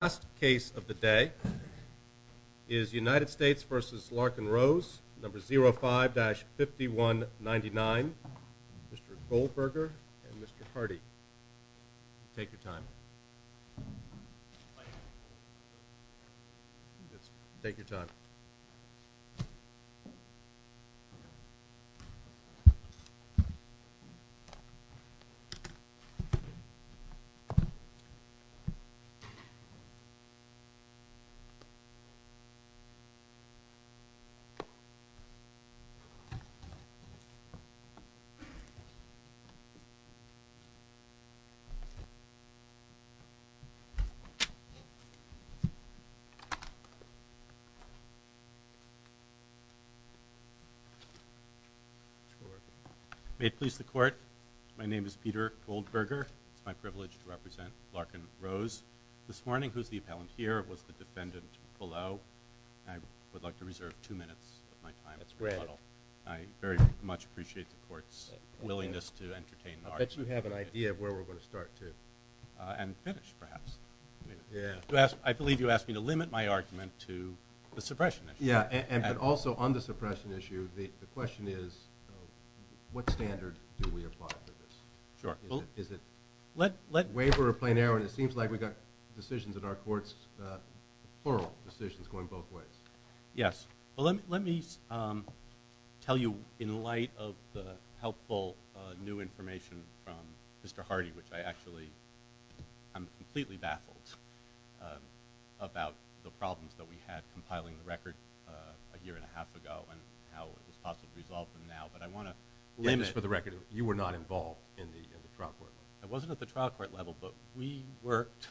The last case of the day is United States v. Larkin-Rose, No. 05-5199, Mr. Goldberger and Mr. Hardy. Take your time. Take your time. May it please the Court, my name is Peter Goldberger. It is my privilege to represent Larkin-Rose this morning, who's the appellant here, was the defendant below. I would like to reserve two minutes of my time. I very much appreciate the Court's willingness to entertain an argument. I bet you have an idea of where we're going to start to. And finish, perhaps. I believe you asked me to limit my argument to the suppression issue. Yeah, and also on the suppression issue, the question is, what standard do we apply for this? Sure. Is it waiver or plain error? And it seems like we've got decisions in our courts, oral decisions going both ways. Yes. Well, let me tell you in light of the helpful new information from Mr. Hardy, which I actually am completely baffled about the problems that we had compiling the record a year and a half ago and how it was possibly resolved from now. But I want to limit Just for the record, you were not involved in the trial court level. I wasn't at the trial court level, but we worked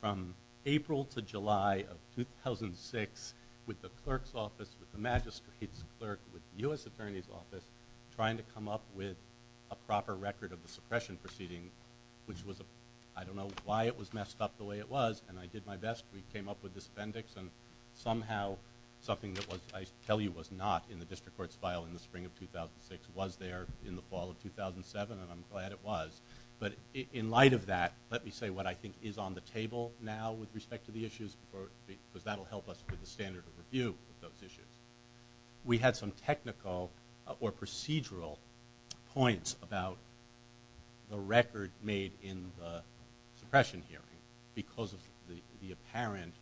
from April to July of 2006 with the clerk's office, with the magistrate's clerk, with the U.S. Attorney's office, trying to come up with a proper record of the suppression proceeding, which was, I don't know why it was messed up the way it was, and I did my best. We came up with this appendix, and somehow something that I tell you was not in the district court's file in the spring of 2006 was there in the fall of 2007, and I'm glad it was. But in light of that, let me say what I think is on the table now with respect to the issues, because that will help us with the standard of review of those issues. We had some technical or procedural points about the record made in the suppression hearing because of the apparent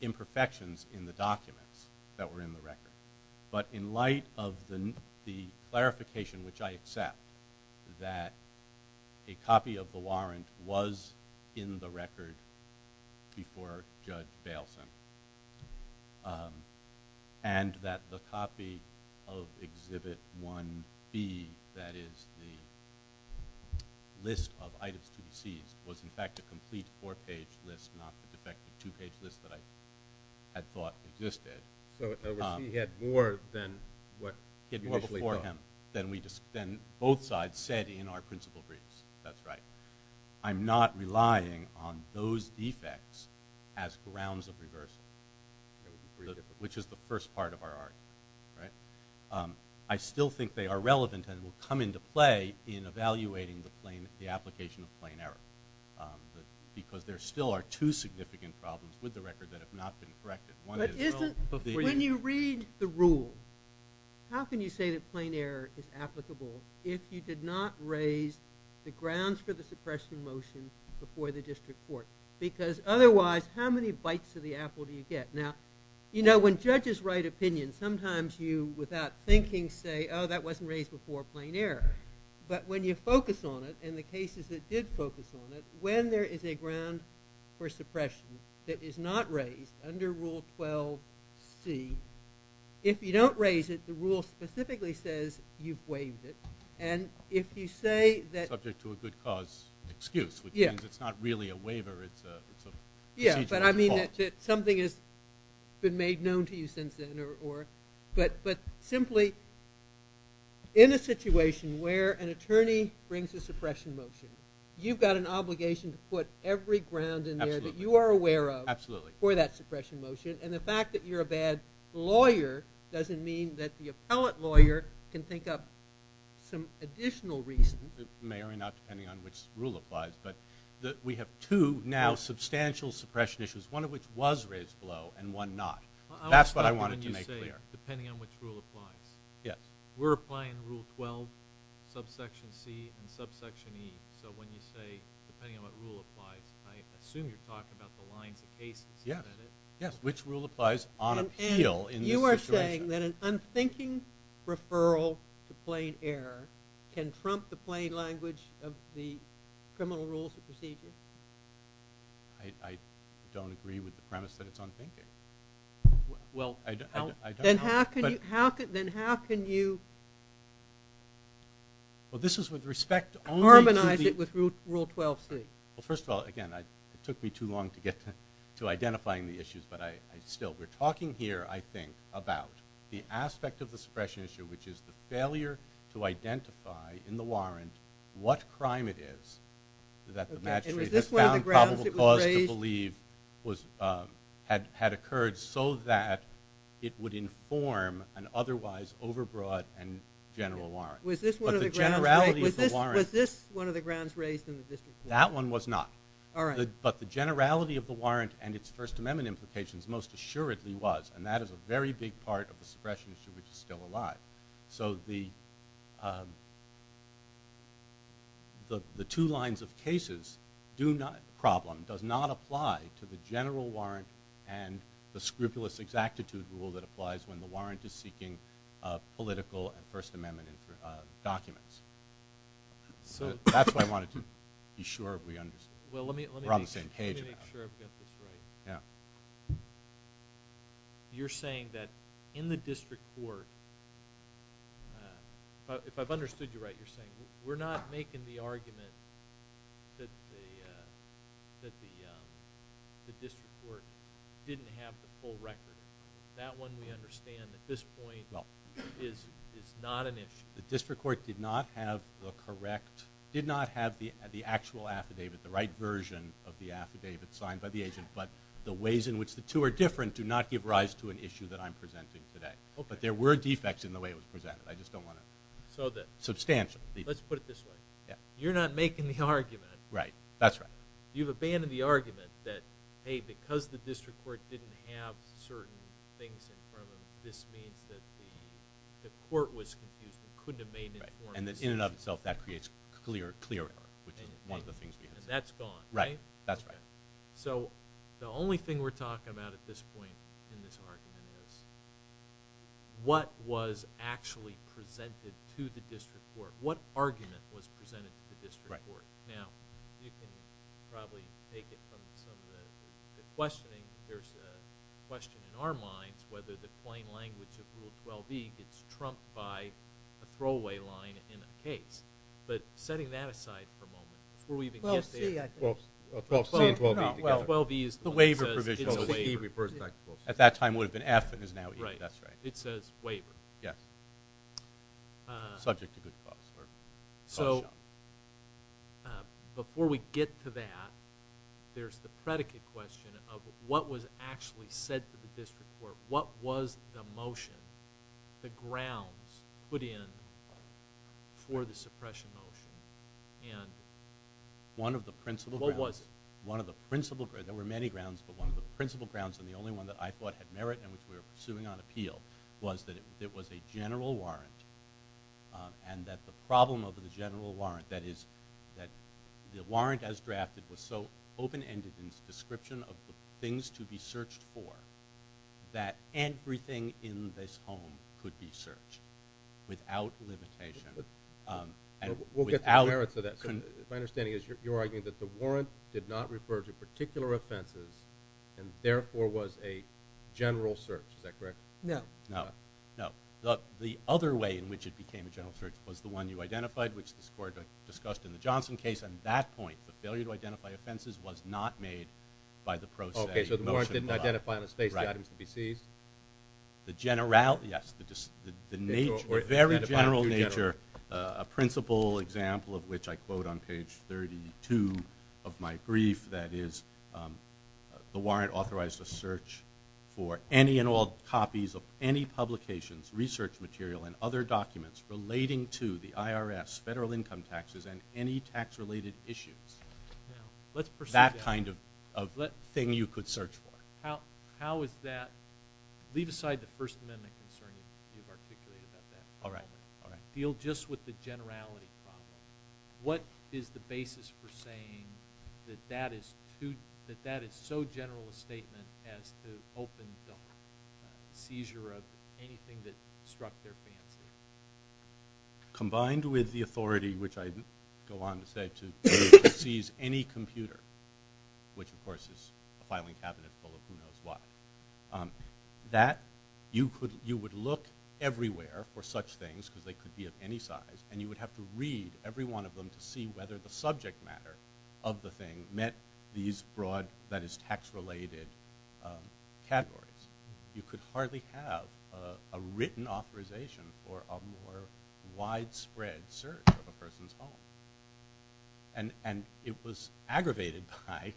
imperfections in the documents that were in the record. But in light of the clarification, which I accept, that a copy of the warrant was in the record before Judge Bailson, and that the copy of Exhibit 1B, that is the list of defects, in fact a complete four-page list, not the defective two-page list that I had thought existed. So he had more than what you initially thought. He had more before him than both sides said in our principal briefs. That's right. I'm not relying on those defects as grounds of reversal, which is the first part of our argument. I still think they are relevant and will come into play in evaluating the application of plain error, because there still are two significant problems with the record that have not been corrected. When you read the rule, how can you say that plain error is applicable if you did not raise the grounds for the suppression motion before the district court? Because otherwise, how many bites of the apple do you get? Now, when judges write opinions, sometimes you, without thinking, say, oh, that wasn't focused on it, and the cases that did focus on it, when there is a ground for suppression that is not raised under Rule 12C, if you don't raise it, the rule specifically says you've waived it. And if you say that... Subject to a good cause excuse, which means it's not really a waiver, it's a procedural default. Yeah, but I mean that something has been made known to you since then, or... But simply, in a situation where an attorney brings a suppression motion, you've got an obligation to put every ground in there that you are aware of for that suppression motion, and the fact that you're a bad lawyer doesn't mean that the appellant lawyer can think up some additional reason... Mayor, not depending on which rule applies, but we have two now substantial suppression issues, one of which was raised below, and one not. That's what I wanted to make clear. Depending on which rule applies. Yes. We're applying Rule 12, subsection C, and subsection E, so when you say, depending on what rule applies, I assume you're talking about the lines of cases. Yes, yes, which rule applies on appeal in this situation. And you are saying that an unthinking referral to plain error can trump the plain language of the criminal rules of procedure? I don't agree with the premise that it's unthinking. Well, then how can you... Well, this is with respect only to the... Carbonize it with Rule 12C. Well, first of all, again, it took me too long to get to identifying the issues, but I still... We're talking here, I think, about the aspect of the suppression issue, which is the failure to identify in the warrant what crime it is that the magistrate has found probable cause to believe had occurred so that it would inform an otherwise overbroad and general warrant. Was this one of the grounds raised in the district court? That one was not. All right. But the generality of the warrant and its First Amendment implications most assuredly was, and that is a very big part of the suppression issue, which is still alive. So the two lines of cases do not... The problem does not apply to the general warrant and the scrupulous exactitude rule that applies when the warrant is seeking political and First Amendment documents. So that's what I wanted to be sure we understood. We're on the same page about it. Let me make sure I've got this right. Yeah. You're saying that in the district court, if I've understood you right, you're saying we're not making the argument that the district court didn't have the full record. That one we understand at this point is not an issue. The district court did not have the correct... Did not have the actual affidavit, the right version of the affidavit signed by the agent, but the ways in which the two are different do not give rise to an issue that I'm presenting today. But there were defects in the way it was presented. I just don't want to... So the... Substantial. Let's put it this way. You're not making the argument... Right. That's right. You've abandoned the argument that, hey, because the district court didn't have certain things in front of them, this means that the court was confused and couldn't have made an informed decision. Right. And in and of itself, that creates clear error, which is one of the things we... And that's gone. Right. That's right. So the only thing we're talking about at this point in this argument is what was actually presented to the district court. What argument was presented to the district court? Right. Now, you can probably take it from some of the questioning. There's a question in our minds whether the plain language of Rule 12e gets trumped by a throwaway line in a case. But setting that aside for a moment, before we even get there... Rule 12c and 12e together. No. Well, 12e is... The waiver provision. It's a waiver. At that time it would have been F and is now E. That's right. It says waiver. Yes. Subject to good cause. So, before we get to that, there's the predicate question of what was actually said to the district court? What was the motion, the grounds put in for the suppression motion? And... One of the principal grounds. What was it? One of the principal... There were many grounds, but one of the principal grounds and the only one that I thought had merit and which we were pursuing on appeal was that it was a general warrant and that the problem of the general warrant, that is, that the warrant as drafted was so open-ended in its description of the things to be searched for that everything in this home could be searched without limitation and without... We'll get to the merits of that. My understanding is you're arguing that the warrant did not refer to particular offenses and therefore was a general search. Is that correct? No. No. No. The other way in which it became a general search was the one you identified, which the court discussed in the Johnson case. At that point, the failure to identify offenses was not made by the process. Okay. So, the warrant didn't identify on its face the items to be seized? Right. The general... Yes. The very general nature, a principal example of which I quote on page 32 of my brief, that is, the warrant authorized a search for any and all copies of any publications, research material, and other documents relating to the IRS, federal income taxes, and any tax-related issues. Now, let's pursue that. That kind of thing you could search for. How is that... Leave aside the First Amendment concern you've articulated about that. All right. All right. Deal just with the generality problem. What is the basis for saying that that is so general a statement as to open the seizure of anything that struck their fancy? Combined with the authority, which I go on to say, to seize any computer, which, of course, is a filing cabinet full of who knows what, that you would look everywhere for such things because they could be of any size, and you would have to read every one of them to see whether the subject matter of the thing met these broad, that is, tax-related categories. You could hardly have a written authorization for a more widespread search of a person's home. And it was aggravated by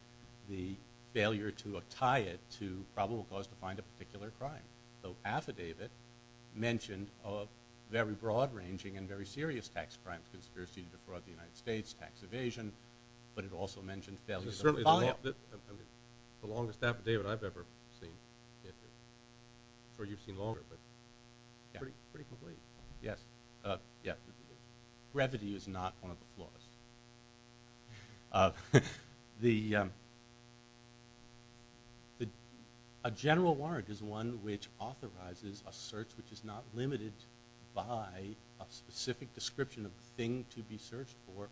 the failure to tie it to probable cause to find a particular crime. So affidavit mentioned a very broad-ranging and very serious tax crime, conspiracy to defraud the United States, tax evasion, but it also mentioned failure to find... Certainly the longest affidavit I've ever seen, or you've seen longer, but pretty complete. Yes. Yes. Brevity is not one of the flaws. A general warrant is one which authorizes a search which is not limited by a specific description of the thing to be searched for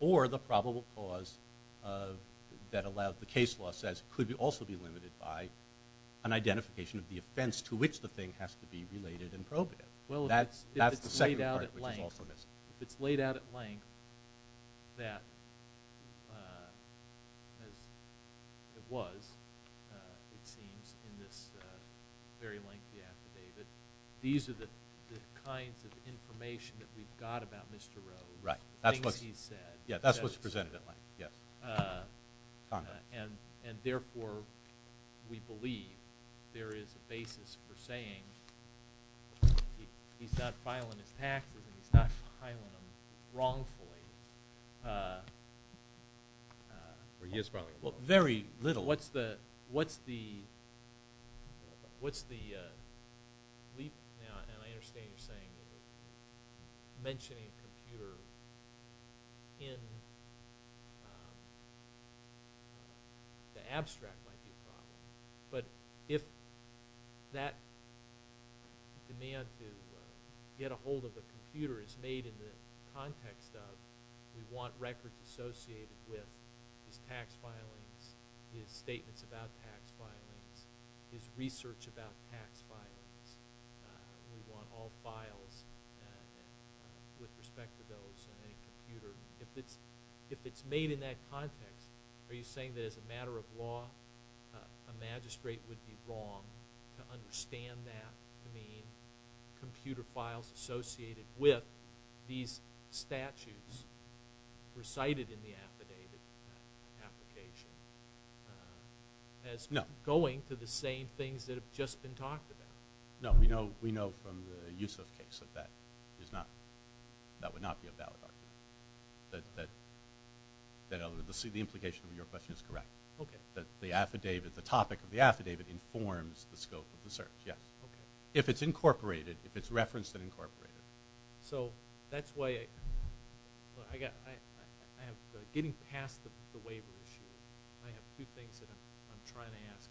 or the probable cause that allows... The case law says it could also be limited by an identification of the offense to which the thing has to be related and probated. That's the second part which is also missing. If it's laid out at length that, as it was, it seems, in this very lengthy affidavit, these are the kinds of information that we've got about Mr. Rhodes, the things he's said. Yes, that's what's presented at length. Yes. Therefore, we believe there is a basis for saying he's not filing his taxes and he's not filing them wrongfully. He is filing them wrongfully. Very little. What's the leap, and I understand you're saying, mentioning a computer in the abstract might be a problem, but if that demand to get a hold of a computer is made in the context of, we want records associated with his tax filings, his statements about tax filings, his research about tax filings, we want all files with respect to those in a computer. If it's made in that context, are you saying that as a matter of law, a magistrate would be wrong to understand that to mean computer files associated with these statutes recited in the affidavit application as going to the same things that have just been talked about? No, we know from the Yusuf case that that would not be a valid argument. The implication of your question is correct. Okay. The topic of the affidavit informs the scope of the search. Yeah. Okay. If it's incorporated, if it's referenced and incorporated. So that's why I have, getting past the waiver issue, I have two things that I'm trying to ask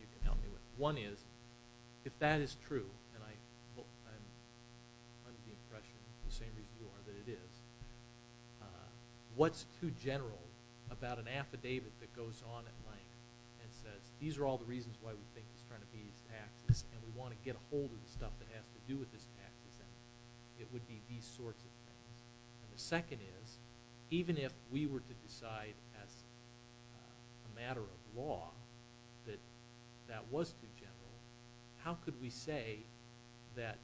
you to help me with. One is, if that is true, and I'm under the impression the same as you are that it is, what's too general about an affidavit that goes on at length and says, these are all the reasons why we think it's trying to be used in practice, and we want to get a hold of the stuff that has to do with this practice. It would be these sorts of things. And the second is, even if we were to decide as a matter of law that that was too general, how could we say that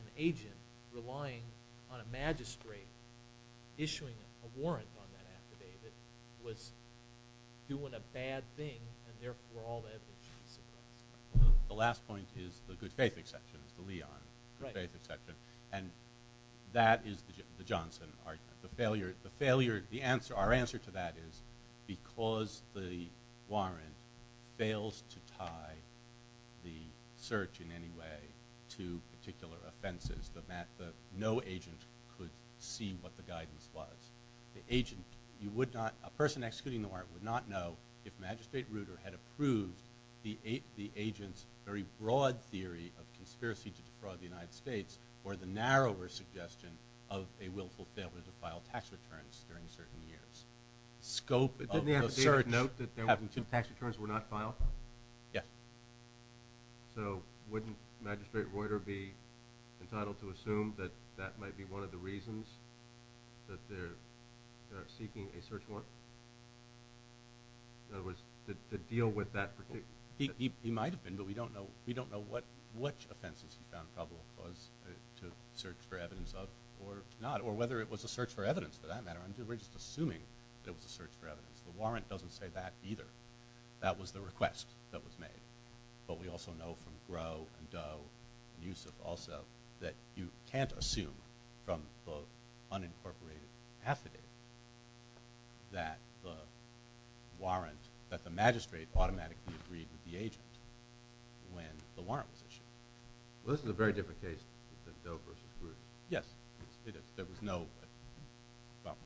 an agent relying on a magistrate issuing a warrant on that affidavit was doing a bad thing, and therefore all that was used in practice? The last point is the good faith exception. It's the Leon. Right. Good faith exception. And that is the Johnson argument. Our answer to that is, because the warrant fails to tie the search in any way to particular offenses, no agent could see what the guidance was. A person executing the warrant would not know if Magistrate Ruder had approved the agent's very broad theory of conspiracy to defraud the United States, or the narrower suggestion of a willful failure to file tax returns during certain years. The scope of the search having two tax returns were not filed? Yeah. So wouldn't Magistrate Ruder be entitled to assume that that might be one of the reasons that they're seeking a search warrant? In other words, to deal with that particular? He might have been, but we don't know. We don't know which offenses he found trouble to search for evidence of or not, or whether it was a search for evidence, for that matter. We're just assuming it was a search for evidence. The warrant doesn't say that either. That was the request that was made. But we also know from Groh and Doe and Yusuf also that you can't assume from both unincorporated affidavit that the Magistrate automatically agreed with the agent when the warrant was issued. Well, this is a very different case than Doe versus Ruder. Yes. There was no problem.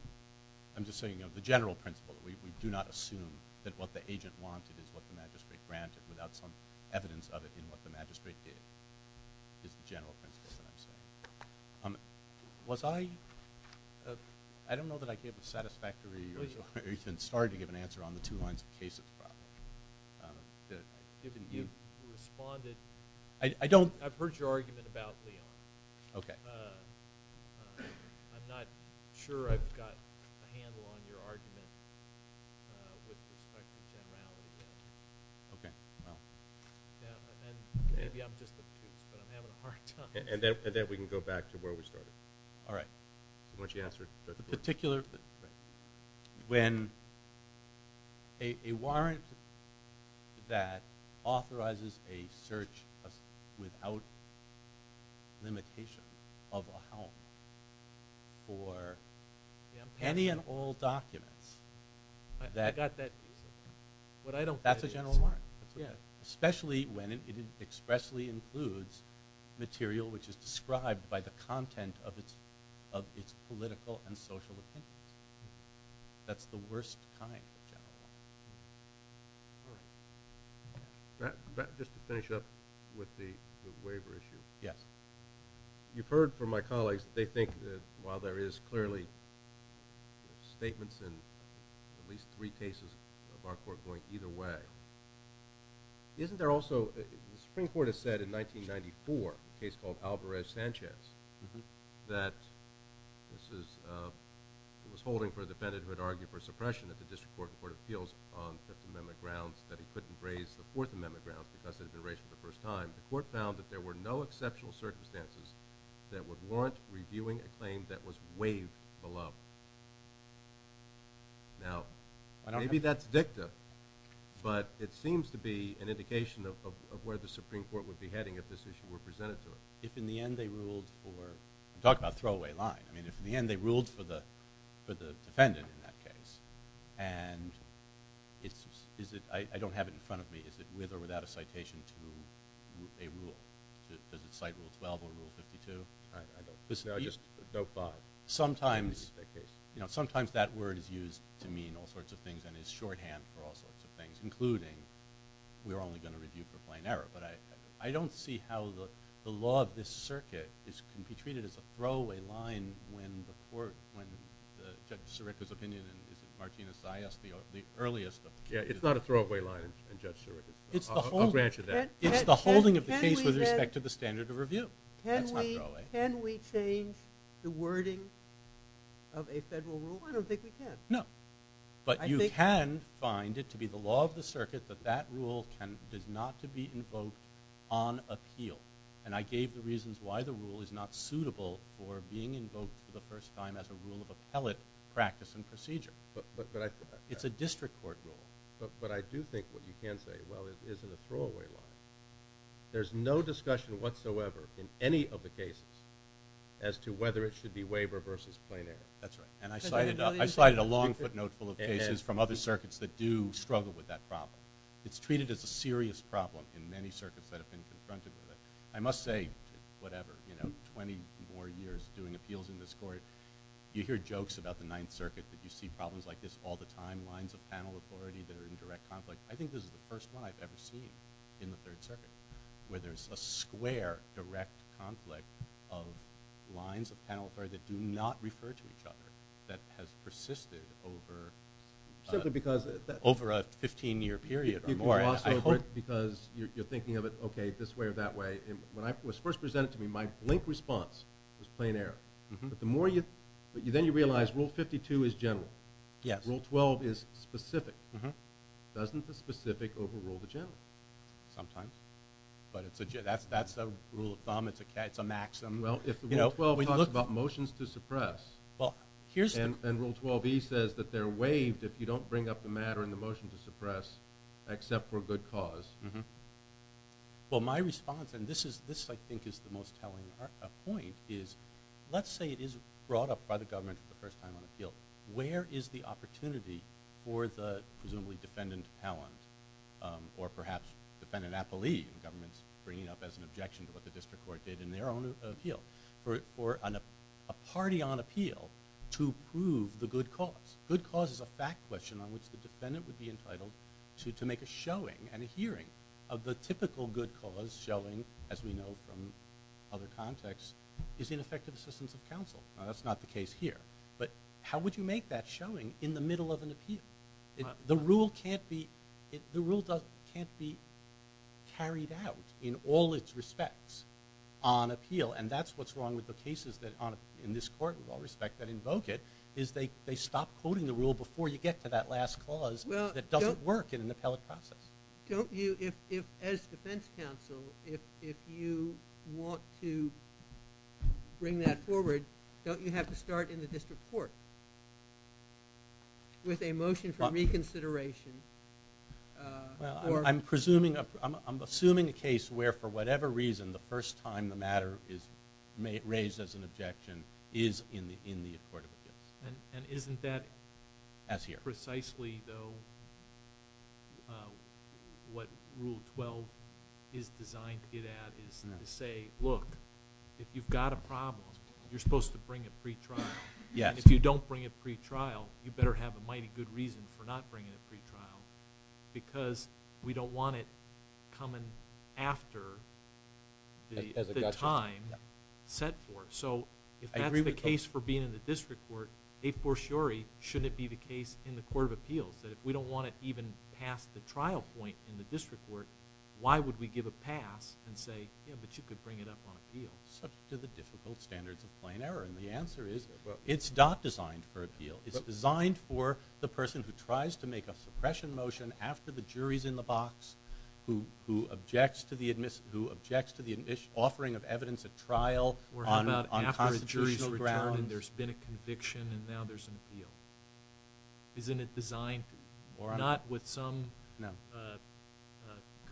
I'm just saying the general principle, we do not assume that what the agent wanted is what the Magistrate granted without some evidence of it in what the Magistrate did is the general principle that I'm saying. Was I – I don't know that I gave a satisfactory or even started to give an answer on the two lines of the case. I don't – I've heard your argument about Leon. Okay. I'm not sure I've got a handle on your argument with respect to generalities. Okay. And maybe I'm just a prude, but I'm having a hard time. And then we can go back to where we started. All right. Why don't you answer? The particular – when a warrant that authorizes a search without limitation of a home or any and all documents that – I got that. That's a general warrant. Especially when it expressly includes material which is described by the content of its political and social opinions. That's the worst kind of general warrant. Just to finish up with the waiver issue. Yes. You've heard from my colleagues that they think that while there is clearly statements in at least three cases of our court going either way, isn't there also – the Supreme Court has said in 1994, a case called Alvarez-Sanchez, that this is – it was holding for a defendant who had argued for suppression at the district court in court of appeals on Fifth Amendment grounds that he couldn't raise the Fourth Amendment grounds because it had been raised for the first time. The court found that there were no exceptional circumstances that would warrant reviewing a claim that was waived below. Now, maybe that's dicta, but it seems to be an indication of where the Supreme Court would be heading if this issue were presented to us. If in the end they ruled for – I'm talking about throwaway line. I mean, if in the end they ruled for the defendant in that case, and it's – I don't have it in front of me. Is it with or without a citation to a rule? I don't know. Sometimes that word is used to mean all sorts of things and is shorthand for all sorts of things, including we're only going to review for plain error. But I don't see how the law of this circuit can be treated as a throwaway line when the court – when Judge Sirica's opinion and Martina Zayas, the earliest – Yeah, it's not a throwaway line in Judge Sirica's – I'll grant you that. It's the holding of the case with respect to the standard of review. That's not throwaway. Can we change the wording of a federal rule? I don't think we can. No. But you can find it to be the law of the circuit that that rule does not to be invoked on appeal. And I gave the reasons why the rule is not suitable for being invoked for the first time as a rule of appellate practice and procedure. But I – It's a district court rule. But I do think what you can say, well, it isn't a throwaway line. There's no discussion whatsoever in any of the cases as to whether it should be waiver versus plain error. That's right. And I cited a long footnote full of cases from other circuits that do struggle with that problem. It's treated as a serious problem in many circuits that have been confronted with it. I must say, whatever, you know, 20 more years doing appeals in this court, you hear jokes about the Ninth Circuit that you see problems like this all the time, lines of panel authority that are in direct conflict. I think this is the first one I've ever seen in the Third Circuit where there's a square direct conflict of lines of panel authority that do not refer to each other that has persisted over a 15-year period or more. I hope because you're thinking of it, okay, this way or that way. When it was first presented to me, my blink response was plain error. But then you realize Rule 52 is general. Yes. Rule 12 is specific. Doesn't the specific overrule the general? Sometimes. But that's a rule of thumb. It's a maxim. Well, if Rule 12 talks about motions to suppress and Rule 12e says that they're waived if you don't bring up the matter in the motion to suppress except for a good cause. Well, my response, and this I think is the most telling point, is let's say it is brought up by the government for the first time on appeal. Where is the opportunity for the presumably defendant appellant or perhaps defendant appellee the government's bringing up as an objection to what the district court did in their own appeal for a party on appeal to prove the good cause? Good cause is a fact question on which the defendant would be entitled to make a showing and a hearing of the typical good cause showing, as we know from other contexts, is ineffective assistance of counsel. That's not the case here. But how would you make that showing in the middle of an appeal? The rule can't be carried out in all its respects on appeal, and that's what's wrong with the cases in this court with all respect that invoke it is they stop quoting the rule before you get to that last clause that doesn't work in an appellate process. Don't you, as defense counsel, if you want to bring that forward, don't you have to start in the district court with a motion for reconsideration? I'm assuming a case where for whatever reason the first time the matter is raised as an objection is in the court of appeals. And isn't that precisely, though, what Rule 12 is designed to get at is to say, look, if you've got a problem, you're supposed to bring it pre-trial. And if you don't bring it pre-trial, you better have a mighty good reason for not bringing it pre-trial because we don't want it coming after the time set for it. So if that's the case for being in the district court, a fortiori shouldn't it be the case in the court of appeals, that if we don't want it even past the trial point in the district court, why would we give a pass and say, yeah, but you could bring it up on appeal? It's up to the difficult standards of plain error. And the answer is it's not designed for appeal. It's designed for the person who tries to make a suppression motion after the jury's in the box, who objects to the offering of evidence at trial on constitutional grounds. Or how about after a jury's returned and there's been a conviction and now there's an appeal? Isn't it designed not with some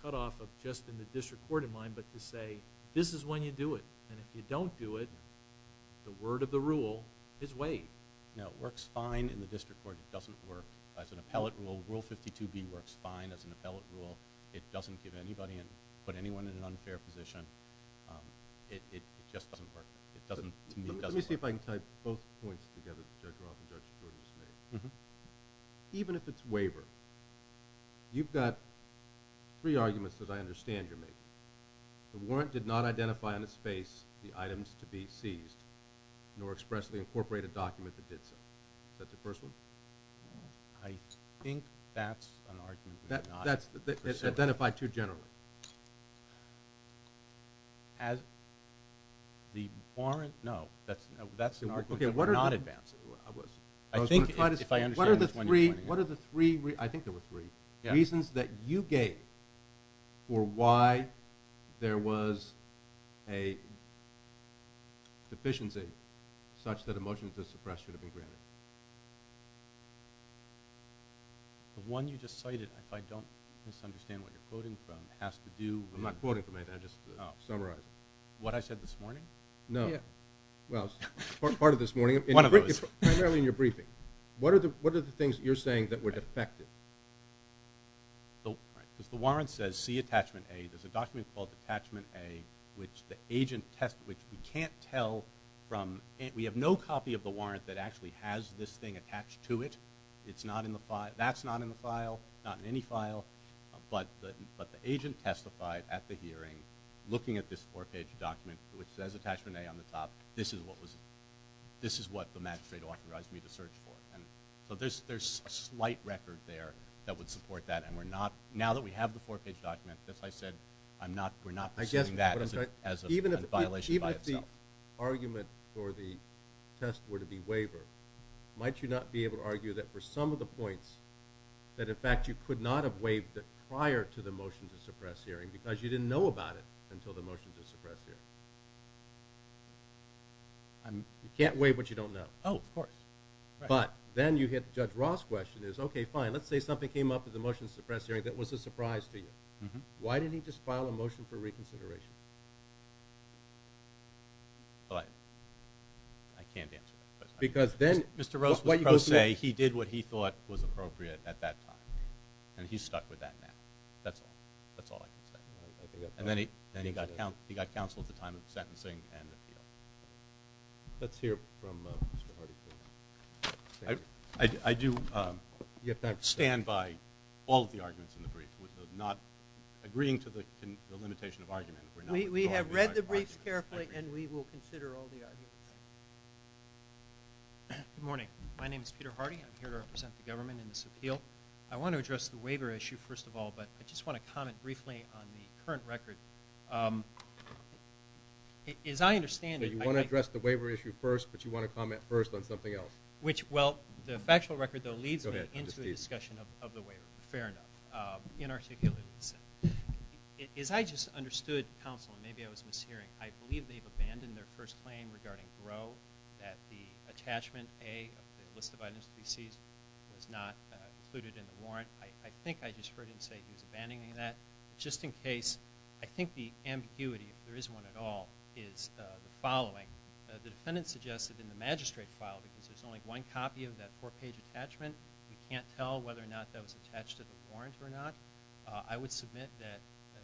cutoff of just in the district court in mind, but to say this is when you do it. And if you don't do it, the word of the rule is waived. No, it works fine in the district court. It doesn't work as an appellate rule. Rule 52B works fine as an appellate rule. It doesn't give anybody and put anyone in an unfair position. It just doesn't work. Let me see if I can tie both points together that Judge Roth and Judge Giordano made. Even if it's waivered, you've got three arguments that I understand you're making. The warrant did not identify on its face the items to be seized, nor expressly incorporate a document that did so. Is that the first one? I think that's an argument. That's identified too generally. As the warrant? No, that's an argument that we're not advancing. I think if I understand this one, you're pointing at it. What are the three reasons that you gave for why there was a deficiency such that a motion to suppress should have been granted? The one you just cited, if I don't misunderstand what you're quoting from, has to do with I'm not quoting from anything, I'm just summarizing. What I said this morning? No. Well, part of this morning. One of those. Primarily in your briefing. What are the things that you're saying that were defective? Because the warrant says C, attachment A. There's a document called attachment A, which we have no copy of the warrant that actually has this thing attached to it. That's not in the file. Not in any file. But the agent testified at the hearing, looking at this four-page document, which says attachment A on the top. This is what the magistrate authorized me to search for. So there's a slight record there that would support that. Now that we have the four-page document, as I said, we're not pursuing that. As a violation by itself. Even if the argument for the test were to be waiver, might you not be able to argue that for some of the points, that in fact you could not have waived it prior to the motion to suppress hearing because you didn't know about it until the motion to suppress hearing? You can't waive what you don't know. Oh, of course. But then you hit Judge Ross' question. Okay, fine. Let's say something came up in the motion to suppress hearing that was a surprise to you. Why didn't he just file a motion for reconsideration? Well, I can't answer that question. Mr. Ross was pro se. He did what he thought was appropriate at that time. And he stuck with that man. That's all. That's all I can say. And then he got counsel at the time of the sentencing and the appeal. Let's hear from Mr. Hardy. I do stand by all of the arguments in the brief. Not agreeing to the limitation of argument. We have read the briefs carefully, and we will consider all the arguments. Good morning. My name is Peter Hardy. I'm here to represent the government in this appeal. I want to address the waiver issue first of all, but I just want to comment briefly on the current record. As I understand it, You want to address the waiver issue first, but you want to comment first on something else. Well, the factual record, though, leads me into the discussion of the waiver. Fair enough. Inarticulate. As I just understood, counsel, and maybe I was mishearing, I believe they've abandoned their first claim regarding Gros, that the attachment A of the list of items to be seized was not included in the warrant. I think I just heard him say he was abandoning that. Just in case, I think the ambiguity, if there is one at all, is the following. The defendant suggested in the magistrate file, because there's only one copy of that four-page attachment, you can't tell whether or not that was attached to the warrant or not. I would submit that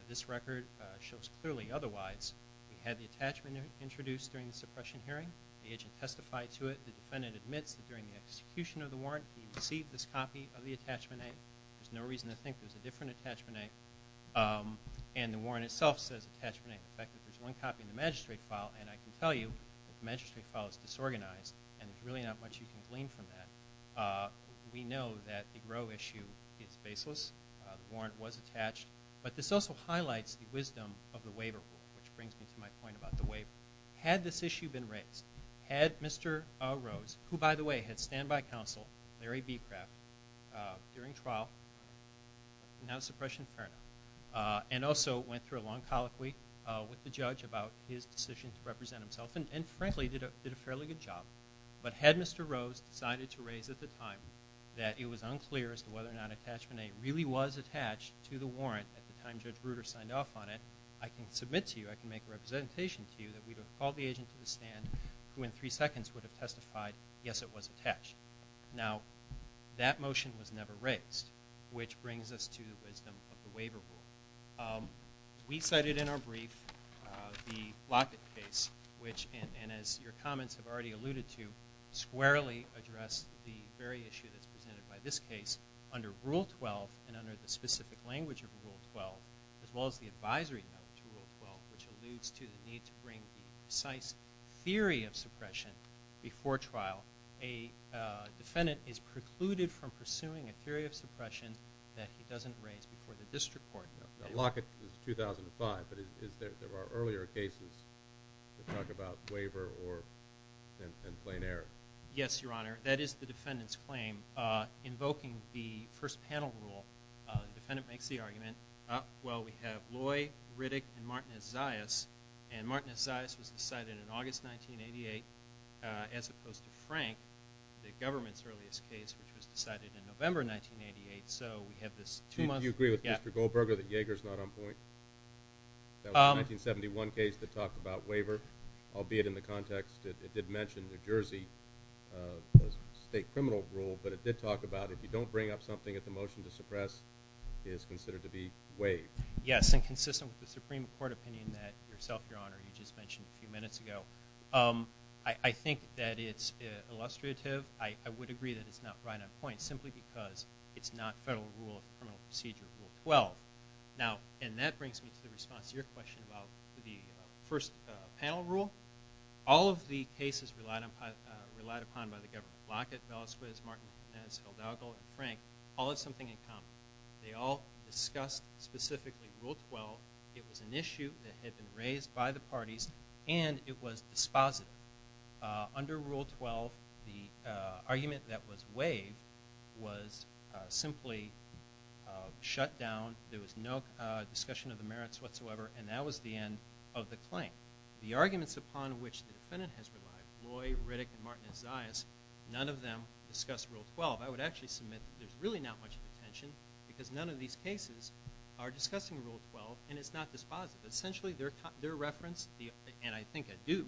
this record shows clearly otherwise. We had the attachment introduced during the suppression hearing. The agent testified to it. The defendant admits that during the execution of the warrant, he received this copy of the attachment A. There's no reason to think there's a different attachment A. And the warrant itself says attachment A. In fact, there's one copy in the magistrate file, and I can tell you that the magistrate file is disorganized, and there's really not much you can glean from that. We know that the Roe issue is baseless. The warrant was attached. But this also highlights the wisdom of the waiver rule, which brings me to my point about the waiver. Had this issue been raised, had Mr. Roe, who, by the way, had standby counsel, Larry Becraft, during trial, now suppression attorney, and also went through a long colloquy with the judge about his decision to represent himself, and frankly, did a fairly good job. But had Mr. Roe decided to raise at the time that it was unclear as to whether or not attachment A really was attached to the warrant at the time Judge Bruder signed off on it, I can submit to you, I can make a representation to you that we would have called the agent to the stand who in three seconds would have testified, yes, it was attached. Now, that motion was never raised, which brings us to the wisdom of the waiver rule. We cited in our brief the Lockett case, which, and as your comments have already alluded to, squarely addressed the very issue that's presented by this case under Rule 12 and under the specific language of Rule 12, as well as the advisory note to Rule 12, which alludes to the need to bring the precise theory of suppression before trial. A defendant is precluded from pursuing a theory of suppression that he doesn't raise before the district court. Now, Lockett is 2005, but there are earlier cases that talk about waiver and plain error. Yes, Your Honor. That is the defendant's claim. Invoking the first panel rule, the defendant makes the argument, well, we have Loy, Riddick, and Martinez-Zayas, and Martinez-Zayas was decided in August 1988 as opposed to Frank, the government's earliest case, which was decided in November 1988. Do you agree with Mr. Goldberger that Yeager is not on point? That was a 1971 case that talked about waiver, albeit in the context that it did mention New Jersey, a state criminal rule, but it did talk about if you don't bring up something at the motion to suppress, it is considered to be waived. Yes, and consistent with the Supreme Court opinion that yourself, Your Honor, you just mentioned a few minutes ago. I think that it's illustrative. I would agree that it's not right on point simply because it's not federal rule, criminal procedure rule 12. Now, and that brings me to the response to your question about the first panel rule. All of the cases relied upon by the government, Lockett, Velasquez, Martinez, Hidalgo, and Frank, all have something in common. They all discussed specifically rule 12. It was an issue that had been raised by the parties, and it was dispositive. Under rule 12, the argument that was waived was simply shut down. There was no discussion of the merits whatsoever, and that was the end of the claim. The arguments upon which the defendant has relied, Loy, Riddick, and Martinez-Zayas, none of them discussed rule 12. I would actually submit there's really not much contention because none of these cases are discussing rule 12, and it's not dispositive. Essentially, their reference, and I think I do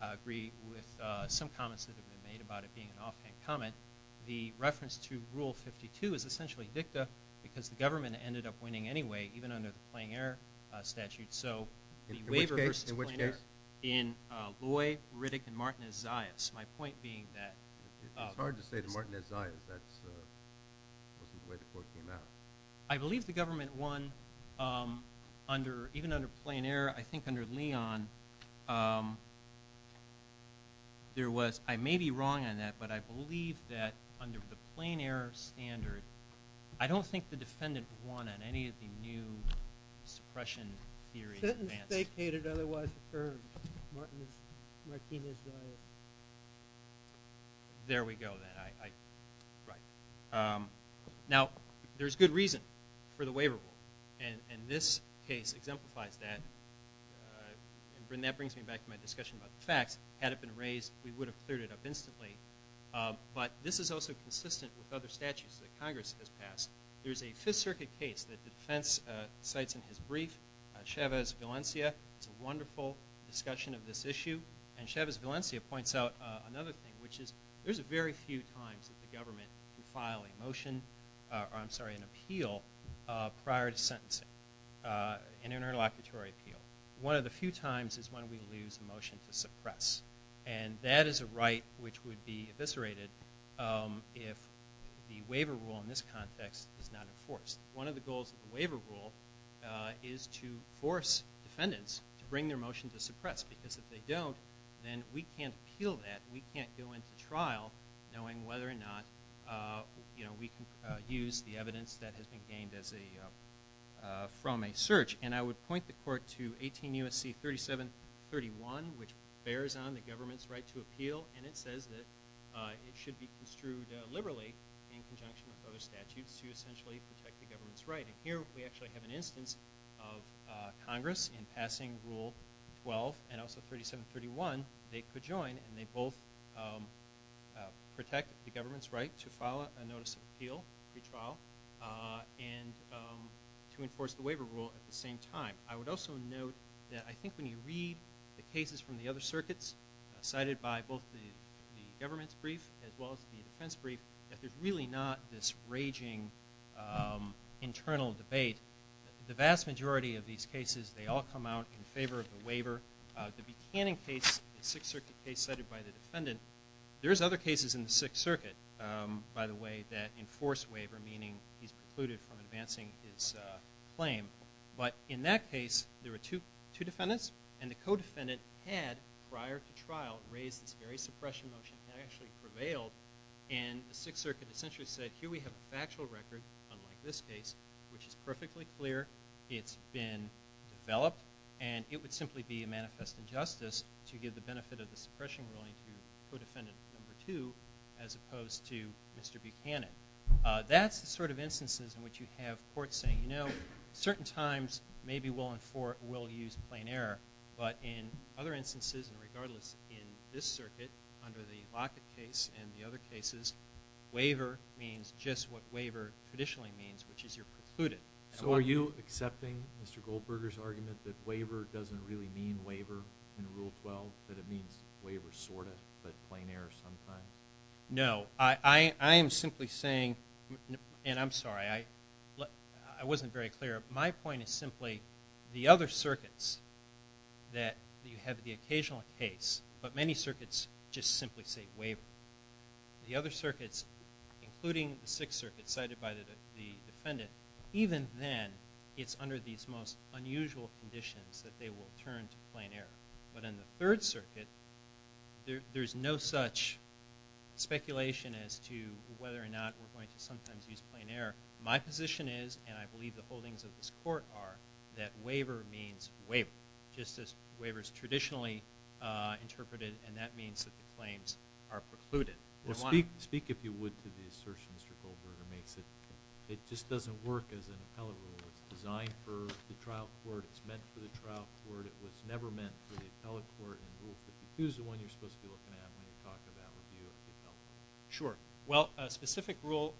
agree with some comments that have been made about it being an offhand comment, the reference to rule 52 is essentially dicta because the government ended up winning anyway even under the Plain Air statute. So the waiver versus Plain Air in Loy, Riddick, and Martinez-Zayas, my point being that – It's hard to say to Martinez-Zayas. That wasn't the way the quote came out. I believe the government won even under Plain Air. I think under Leon, there was – I may be wrong on that, but I believe that under the Plain Air standard, I don't think the defendant won on any of the new suppression theories. The sentence stated otherwise affirmed, Martinez-Zayas. There we go then. Now, there's good reason for the waiver rule, and this case exemplifies that. And that brings me back to my discussion about the facts. Had it been raised, we would have cleared it up instantly. But this is also consistent with other statutes that Congress has passed. There's a Fifth Circuit case that the defense cites in his brief, Chavez-Valencia. It's a wonderful discussion of this issue. And Chavez-Valencia points out another thing, which is there's very few times that the government can file a motion – I'm sorry, an appeal prior to sentencing, an interlocutory appeal. One of the few times is when we lose a motion to suppress. And that is a right which would be eviscerated if the waiver rule in this context is not enforced. One of the goals of the waiver rule is to force defendants to bring their motion to suppress because if they don't, then we can't appeal that. We can't go into trial knowing whether or not we can use the evidence that has been gained from a search. And I would point the court to 18 U.S.C. 3731, which bears on the government's right to appeal. And it says that it should be construed liberally in conjunction with other statutes to essentially protect the government's right. And here we actually have an instance of Congress in passing Rule 12 and also 3731. They could join and they both protect the government's right to file a notice of appeal, free trial, and to enforce the waiver rule at the same time. I would also note that I think when you read the cases from the other circuits, cited by both the government's brief as well as the defense brief, that there's really not this raging internal debate. The vast majority of these cases, they all come out in favor of the waiver. The Buchanan case, the Sixth Circuit case cited by the defendant, there's other cases in the Sixth Circuit, by the way, that enforce waiver, meaning he's precluded from advancing his claim. But in that case, there were two defendants, and the co-defendant had prior to trial raised this very suppression motion that actually prevailed. And the Sixth Circuit essentially said, here we have a factual record, unlike this case, which is perfectly clear. It's been developed, and it would simply be a manifest injustice to give the benefit of the suppression ruling to co-defendant number two as opposed to Mr. Buchanan. That's the sort of instances in which you have courts saying, you know, certain times maybe we'll use plain error. But in other instances, and regardless in this circuit, under the Lockett case and the other cases, waiver means just what waiver traditionally means, which is you're precluded. So are you accepting Mr. Goldberger's argument that waiver doesn't really mean waiver in Rule 12, that it means waiver sort of, but plain error sometimes? No. I am simply saying, and I'm sorry, I wasn't very clear. My point is simply the other circuits that you have the occasional case, but many circuits just simply say waiver. The other circuits, including the Sixth Circuit cited by the defendant, even then it's under these most unusual conditions that they will turn to plain error. But in the Third Circuit, there's no such speculation as to whether or not we're going to sometimes use plain error. My position is, and I believe the holdings of this court are, that waiver means waiver, just as waiver is traditionally interpreted, and that means that the claims are precluded. Speak, if you would, to the assertion Mr. Goldberger makes that it just doesn't work as an appellate rule. It's designed for the trial court. It's meant for the trial court. It was never meant for the appellate court. And Rule 52 is the one you're supposed to be looking at when you're talking about review of the appeal. Sure. Well, a specific rule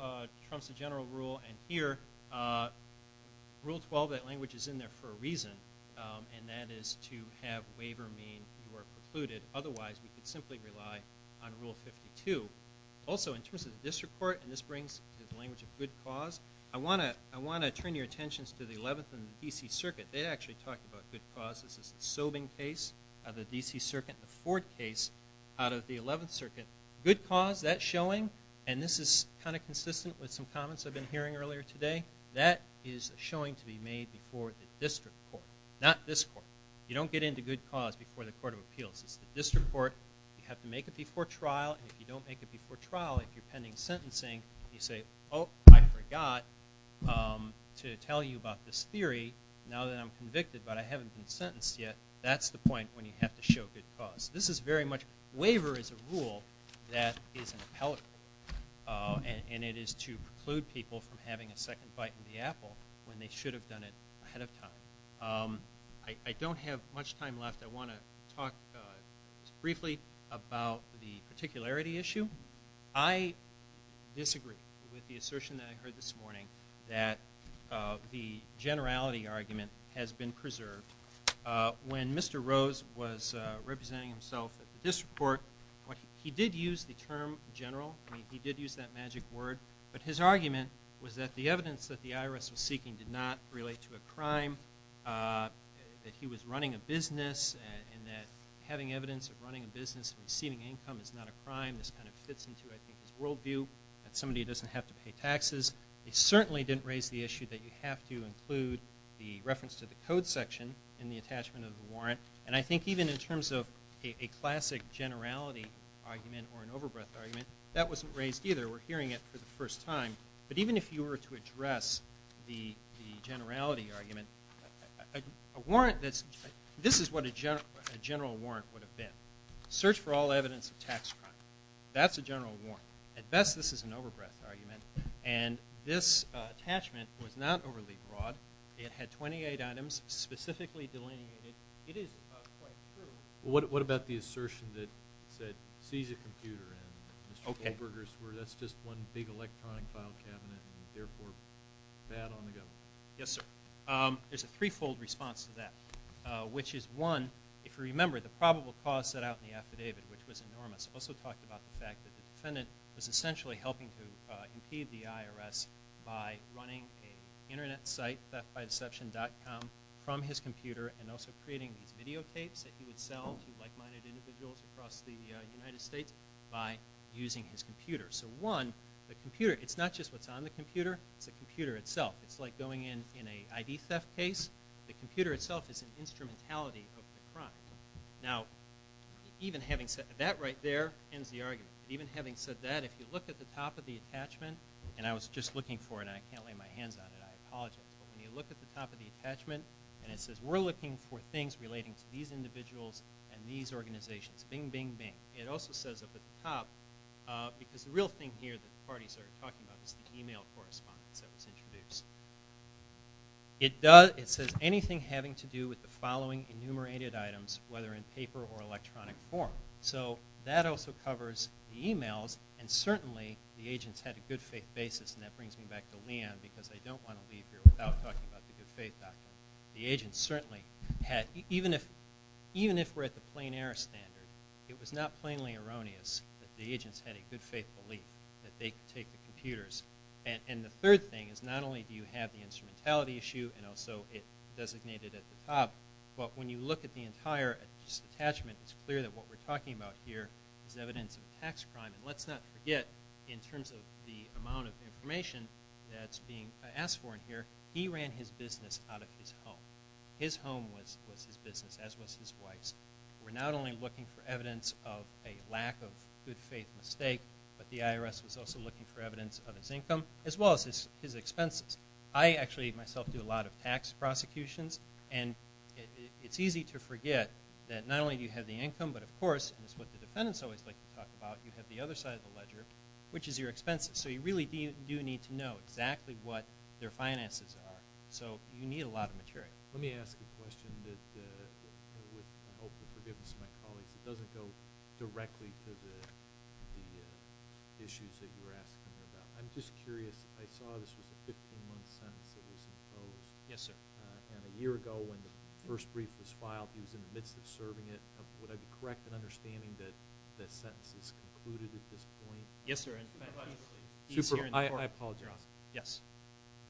trumps a general rule, and here Rule 12, that language is in there for a reason, and that is to have waiver mean you are precluded. Otherwise, we could simply rely on Rule 52. Also, in terms of the district court, and this brings the language of good cause, I want to turn your attentions to the Eleventh and the D.C. Circuit. They actually talked about good cause. This is the Sobing case of the D.C. Circuit, the fourth case out of the Eleventh Circuit. Good cause, that showing, and this is kind of consistent with some comments I've been hearing earlier today, that is a showing to be made before the district court, not this court. You don't get into good cause before the court of appeals. It's the district court. You have to make it before trial, and if you don't make it before trial, if you're pending sentencing, you say, oh, I forgot to tell you about this theory now that I'm convicted, but I haven't been sentenced yet. That's the point when you have to show good cause. This is very much waiver as a rule that is an appellate rule, and it is to preclude people from having a second bite in the apple when they should have done it ahead of time. I don't have much time left. I want to talk briefly about the particularity issue. I disagree with the assertion that I heard this morning that the generality argument has been preserved. When Mr. Rose was representing himself at the district court, he did use the term general. I mean, he did use that magic word, but his argument was that the evidence that the IRS was seeking did not relate to a crime, that he was running a business, and that having evidence of running a business and receiving income is not a crime. This kind of fits into, I think, his worldview, that somebody doesn't have to pay taxes. He certainly didn't raise the issue that you have to include the reference to the code section in the attachment of the warrant. And I think even in terms of a classic generality argument or an overbreadth argument, that wasn't raised either. We're hearing it for the first time. But even if you were to address the generality argument, this is what a general warrant would have been. Search for all evidence of tax crime. That's a general warrant. At best, this is an overbreadth argument. And this attachment was not overly broad. It had 28 items specifically delineated. It is quite true. What about the assertion that seize a computer and Mr. Goldberger's word? That's just one big electronic file cabinet and therefore bad on the government. Yes, sir. There's a three-fold response to that, which is, one, if you remember, the probable cause set out in the affidavit, which was enormous. It also talked about the fact that the defendant was essentially helping to impede the IRS by running an Internet site, theftbydeception.com, from his computer and also creating these videotapes that he would sell to like-minded individuals across the United States by using his computer. So, one, the computer, it's not just what's on the computer. It's the computer itself. It's like going in an ID theft case. The computer itself is an instrumentality of the crime. Now, even having said that right there ends the argument. Even having said that, if you look at the top of the attachment, and I was just looking for it and I can't lay my hands on it, I apologize, but when you look at the top of the attachment and it says, we're looking for things relating to these individuals and these organizations, bing, bing, bing. It also says up at the top, because the real thing here that the parties are talking about is the e-mail correspondence that was introduced. It says, anything having to do with the following enumerated items, whether in paper or electronic form. So, that also covers the e-mails and certainly the agents had a good faith basis and that brings me back to Leon because I don't want to leave here without talking about the good faith doctrine. The agents certainly had, even if we're at the plain error standard, it was not plainly erroneous that the agents had a good faith belief that they could take the computers. And the third thing is not only do you have the instrumentality issue and also it designated at the top, but when you look at the entire attachment, it's clear that what we're talking about here is evidence of tax crime. And let's not forget, in terms of the amount of information that's being asked for in here, he ran his business out of his home. His home was his business, as was his wife's. We're not only looking for evidence of a lack of good faith mistake, but the IRS was also looking for evidence of his income, as well as his expenses. I actually, myself, do a lot of tax prosecutions and it's easy to forget that not only do you have the income, but of course, and this is what the defendants always like to talk about, you have the other side of the ledger, which is your expenses. So you really do need to know exactly what their finances are. So you need a lot of material. Let me ask a question that I hope will forgive my colleagues. It doesn't go directly to the issues that you're asking about. I'm just curious. I saw this was a 15-month sentence that was imposed. Yes, sir. And a year ago when the first brief was filed, he was in the midst of serving it. Would I be correct in understanding that that sentence is concluded at this point? Yes, sir. I apologize. You're on. Yes.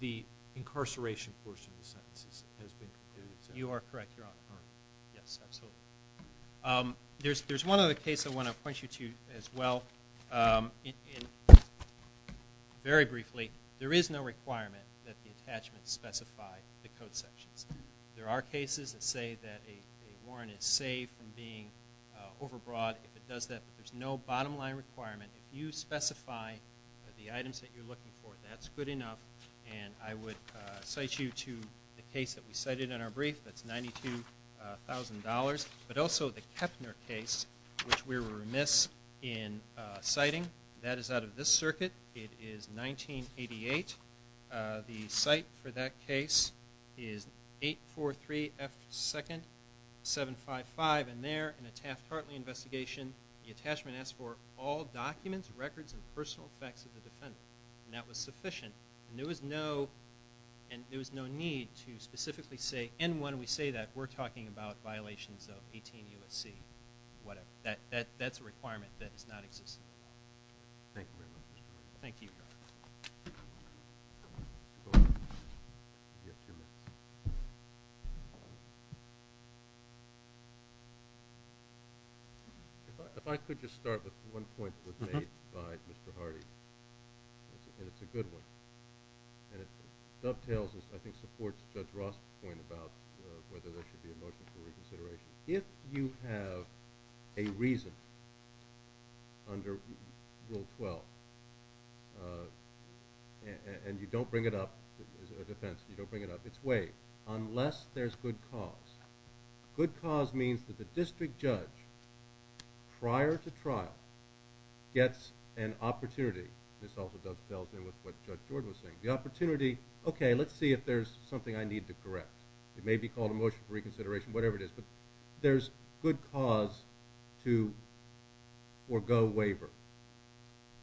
The incarceration portion of the sentence has been concluded. You are correct. You're on. Yes, absolutely. There's one other case I want to point you to as well. Very briefly, there is no requirement that the attachments specify the code sections. There are cases that say that a warrant is saved from being overbought. If it does that, there's no bottom line requirement. If you specify the items that you're looking for, that's good enough. And I would cite you to the case that we cited in our brief that's $92,000, but also the Kepner case, which we were remiss in citing. That is out of this circuit. It is 1988. The cite for that case is 843F2nd755. And there, in a Taft-Hartley investigation, the attachment asks for all documents, records, and personal facts of the defendant. And that was sufficient. And there was no need to specifically say, and when we say that, we're talking about violations of 18 U.S.C. Whatever. That's a requirement that does not exist. Thank you very much. Thank you. If I could just start with one point that was made by Mr. Hardy, and it's a good one. And it dovetails, and I think supports Judge Ross's point about whether there should be a motion for reconsideration. If you have a reason under Rule 12, and you don't bring it up as a defense, you don't bring it up, it's waived unless there's good cause. Good cause means that the district judge, prior to trial, gets an opportunity. This also dovetails in with what Judge George was saying. The opportunity, okay, let's see if there's something I need to correct. It may be called a motion for reconsideration, whatever it is. But there's good cause to forgo waiver.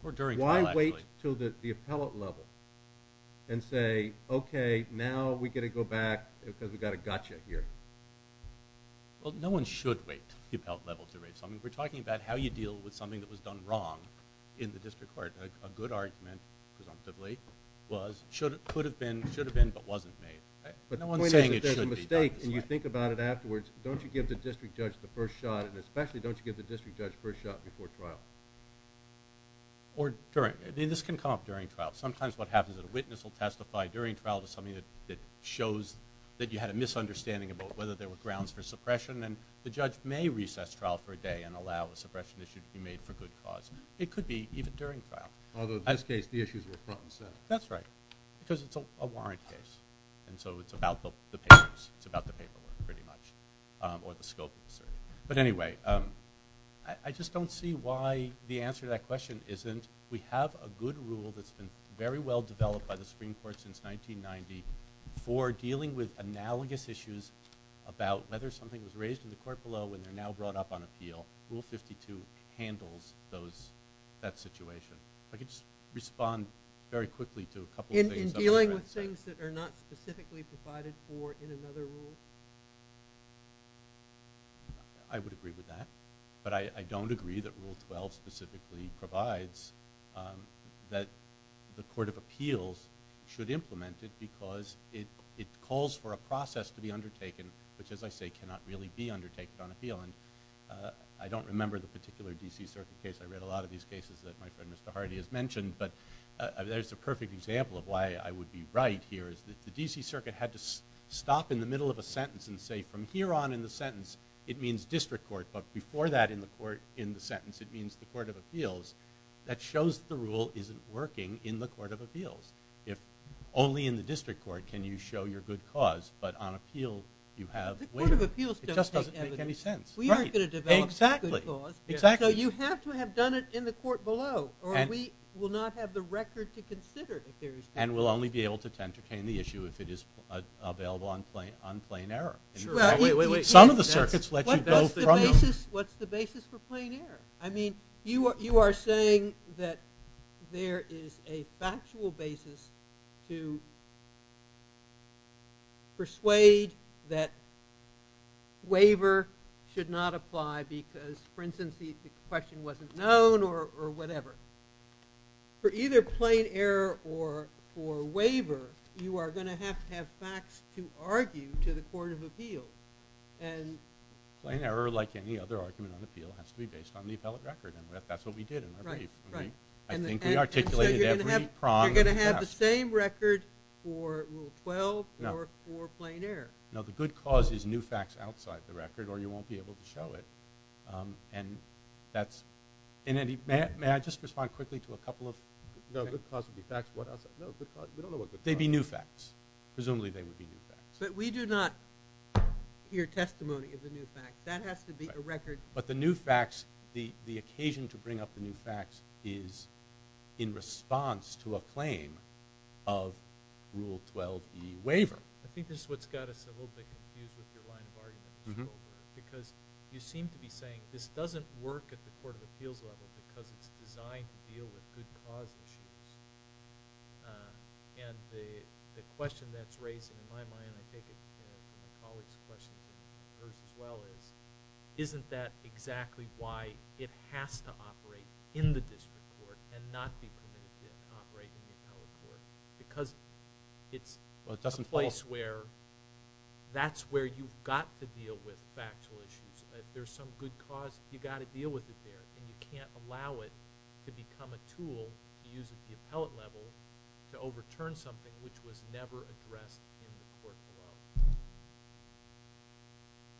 Or during trial, actually. Why wait until the appellate level and say, okay, now we get to go back because we've got a gotcha here? Well, no one should wait the appellate level to raise something. We're talking about how you deal with something that was done wrong in the district court. A good argument, presumptively, was it could have been, should have been, but wasn't made. The point is that there's a mistake, and you think about it afterwards. Don't you give the district judge the first shot, and especially don't you give the district judge the first shot before trial? This can come up during trial. Sometimes what happens is a witness will testify during trial to something that shows that you had a misunderstanding about whether there were grounds for suppression, and the judge may recess trial for a day and allow a suppression issue to be made for good cause. It could be even during trial. Although, in this case, the issues were front and center. That's right, because it's a warrant case, and so it's about the papers. It's about the paperwork, pretty much, or the scope of the suit. But anyway, I just don't see why the answer to that question isn't we have a good rule that's been very well developed by the Supreme Court since 1990 for dealing with analogous issues about whether something was raised in the court below and they're now brought up on appeal. Rule 52 handles that situation. If I could just respond very quickly to a couple of things. In dealing with things that are not specifically provided for in another rule? I would agree with that, but I don't agree that Rule 12 specifically provides that the Court of Appeals should implement it because it calls for a process to be undertaken, which, as I say, cannot really be undertaken on appeal. I don't remember the particular D.C. Circuit case. I read a lot of these cases that my friend Mr. Hardy has mentioned, but there's a perfect example of why I would be right here. The D.C. Circuit had to stop in the middle of a sentence and say, from here on in the sentence, it means district court, but before that, in the sentence, it means the Court of Appeals. That shows the rule isn't working in the Court of Appeals. If only in the district court can you show your good cause, but on appeal you have waiver. It just doesn't make any sense. We aren't going to develop a good cause, so you have to have done it in the court below, or we will not have the record to consider it. And we'll only be able to entertain the issue if it is available on plain error. Some of the circuits let you go from them. What's the basis for plain error? I mean, you are saying that there is a factual basis to persuade that waiver should not apply because, for instance, the question wasn't known or whatever. For either plain error or waiver, you are going to have to have facts to argue to the Court of Appeals. Plain error, like any other argument on appeal, has to be based on the appellate record, and that's what we did in our brief. I think we articulated every prong of the test. You're going to have the same record for Rule 12 or for plain error. No, the good cause is new facts outside the record, or you won't be able to show it. May I just respond quickly to a couple of things? No, good cause would be facts. No, we don't know what good cause is. They'd be new facts. Presumably they would be new facts. But we do not hear testimony of the new facts. That has to be a record. But the new facts, the occasion to bring up the new facts, is in response to a claim of Rule 12e waiver. I think this is what's got us a little bit confused with your line of argument. Because you seem to be saying this doesn't work at the Court of Appeals level because it's designed to deal with good cause issues. And the question that's raised in my mind, and I think it's my colleague's question and hers as well, is isn't that exactly why it has to operate in the district court and not be permitted to operate in the appellate court? Because it's a place where that's where you've got to deal with factual issues. If there's some good cause, you've got to deal with it there, and you can't allow it to become a tool to use at the appellate level to overturn something which was never addressed in the court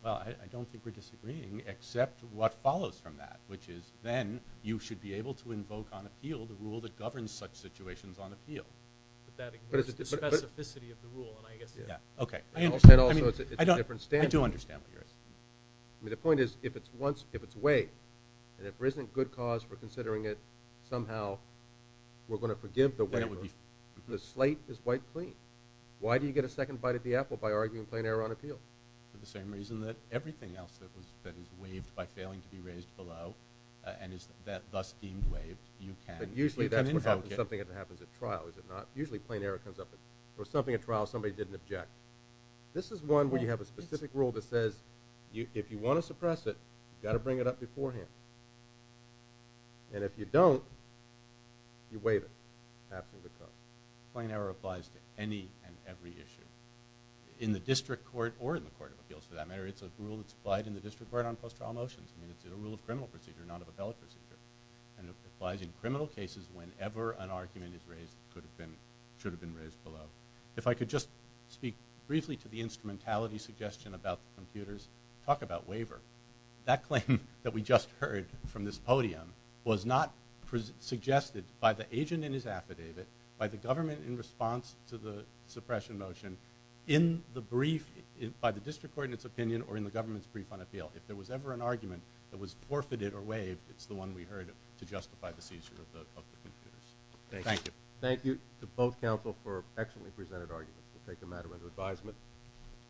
below. Well, I don't think we're disagreeing except what follows from that, which is then you should be able to invoke on appeal the rule that governs such situations on appeal. But that ignores the specificity of the rule, and I guess it does. Okay. Also, it's a different standard. I do understand what you're asking. I mean, the point is if it's waived, and if there isn't good cause for considering it, somehow we're going to forgive the waiver. The slate is wiped clean. Why do you get a second bite at the apple by arguing plain error on appeal? For the same reason that everything else that is waived by failing to be raised below and is thus deemed waived, you can invoke it. But usually that's something that happens at trial, is it not? Usually plain error comes up, or something at trial somebody didn't object. This is one where you have a specific rule that says if you want to suppress it, you've got to bring it up beforehand. And if you don't, you waive it. Plain error applies to any and every issue in the district court or in the court of appeals, for that matter. It's a rule that's applied in the district court on post-trial motions. I mean, it's a rule of criminal procedure, not of appellate procedure. And it applies in criminal cases whenever an argument is raised that should have been raised below. If I could just speak briefly to the instrumentality suggestion about computers, talk about waiver. That claim that we just heard from this podium was not suggested by the agent in his affidavit, by the government in response to the suppression motion, in the brief, by the district court in its opinion, or in the government's brief on appeal. If there was ever an argument that was forfeited or waived, it's the one we heard to justify the seizure of the computers. Thank you. Thank you to both counsel for excellently presented arguments. We'll take the matter under advisement.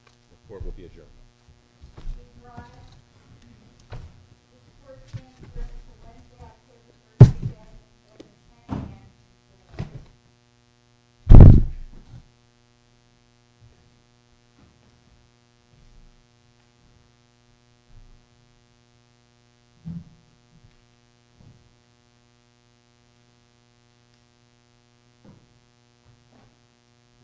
The court will be adjourned. Thank you.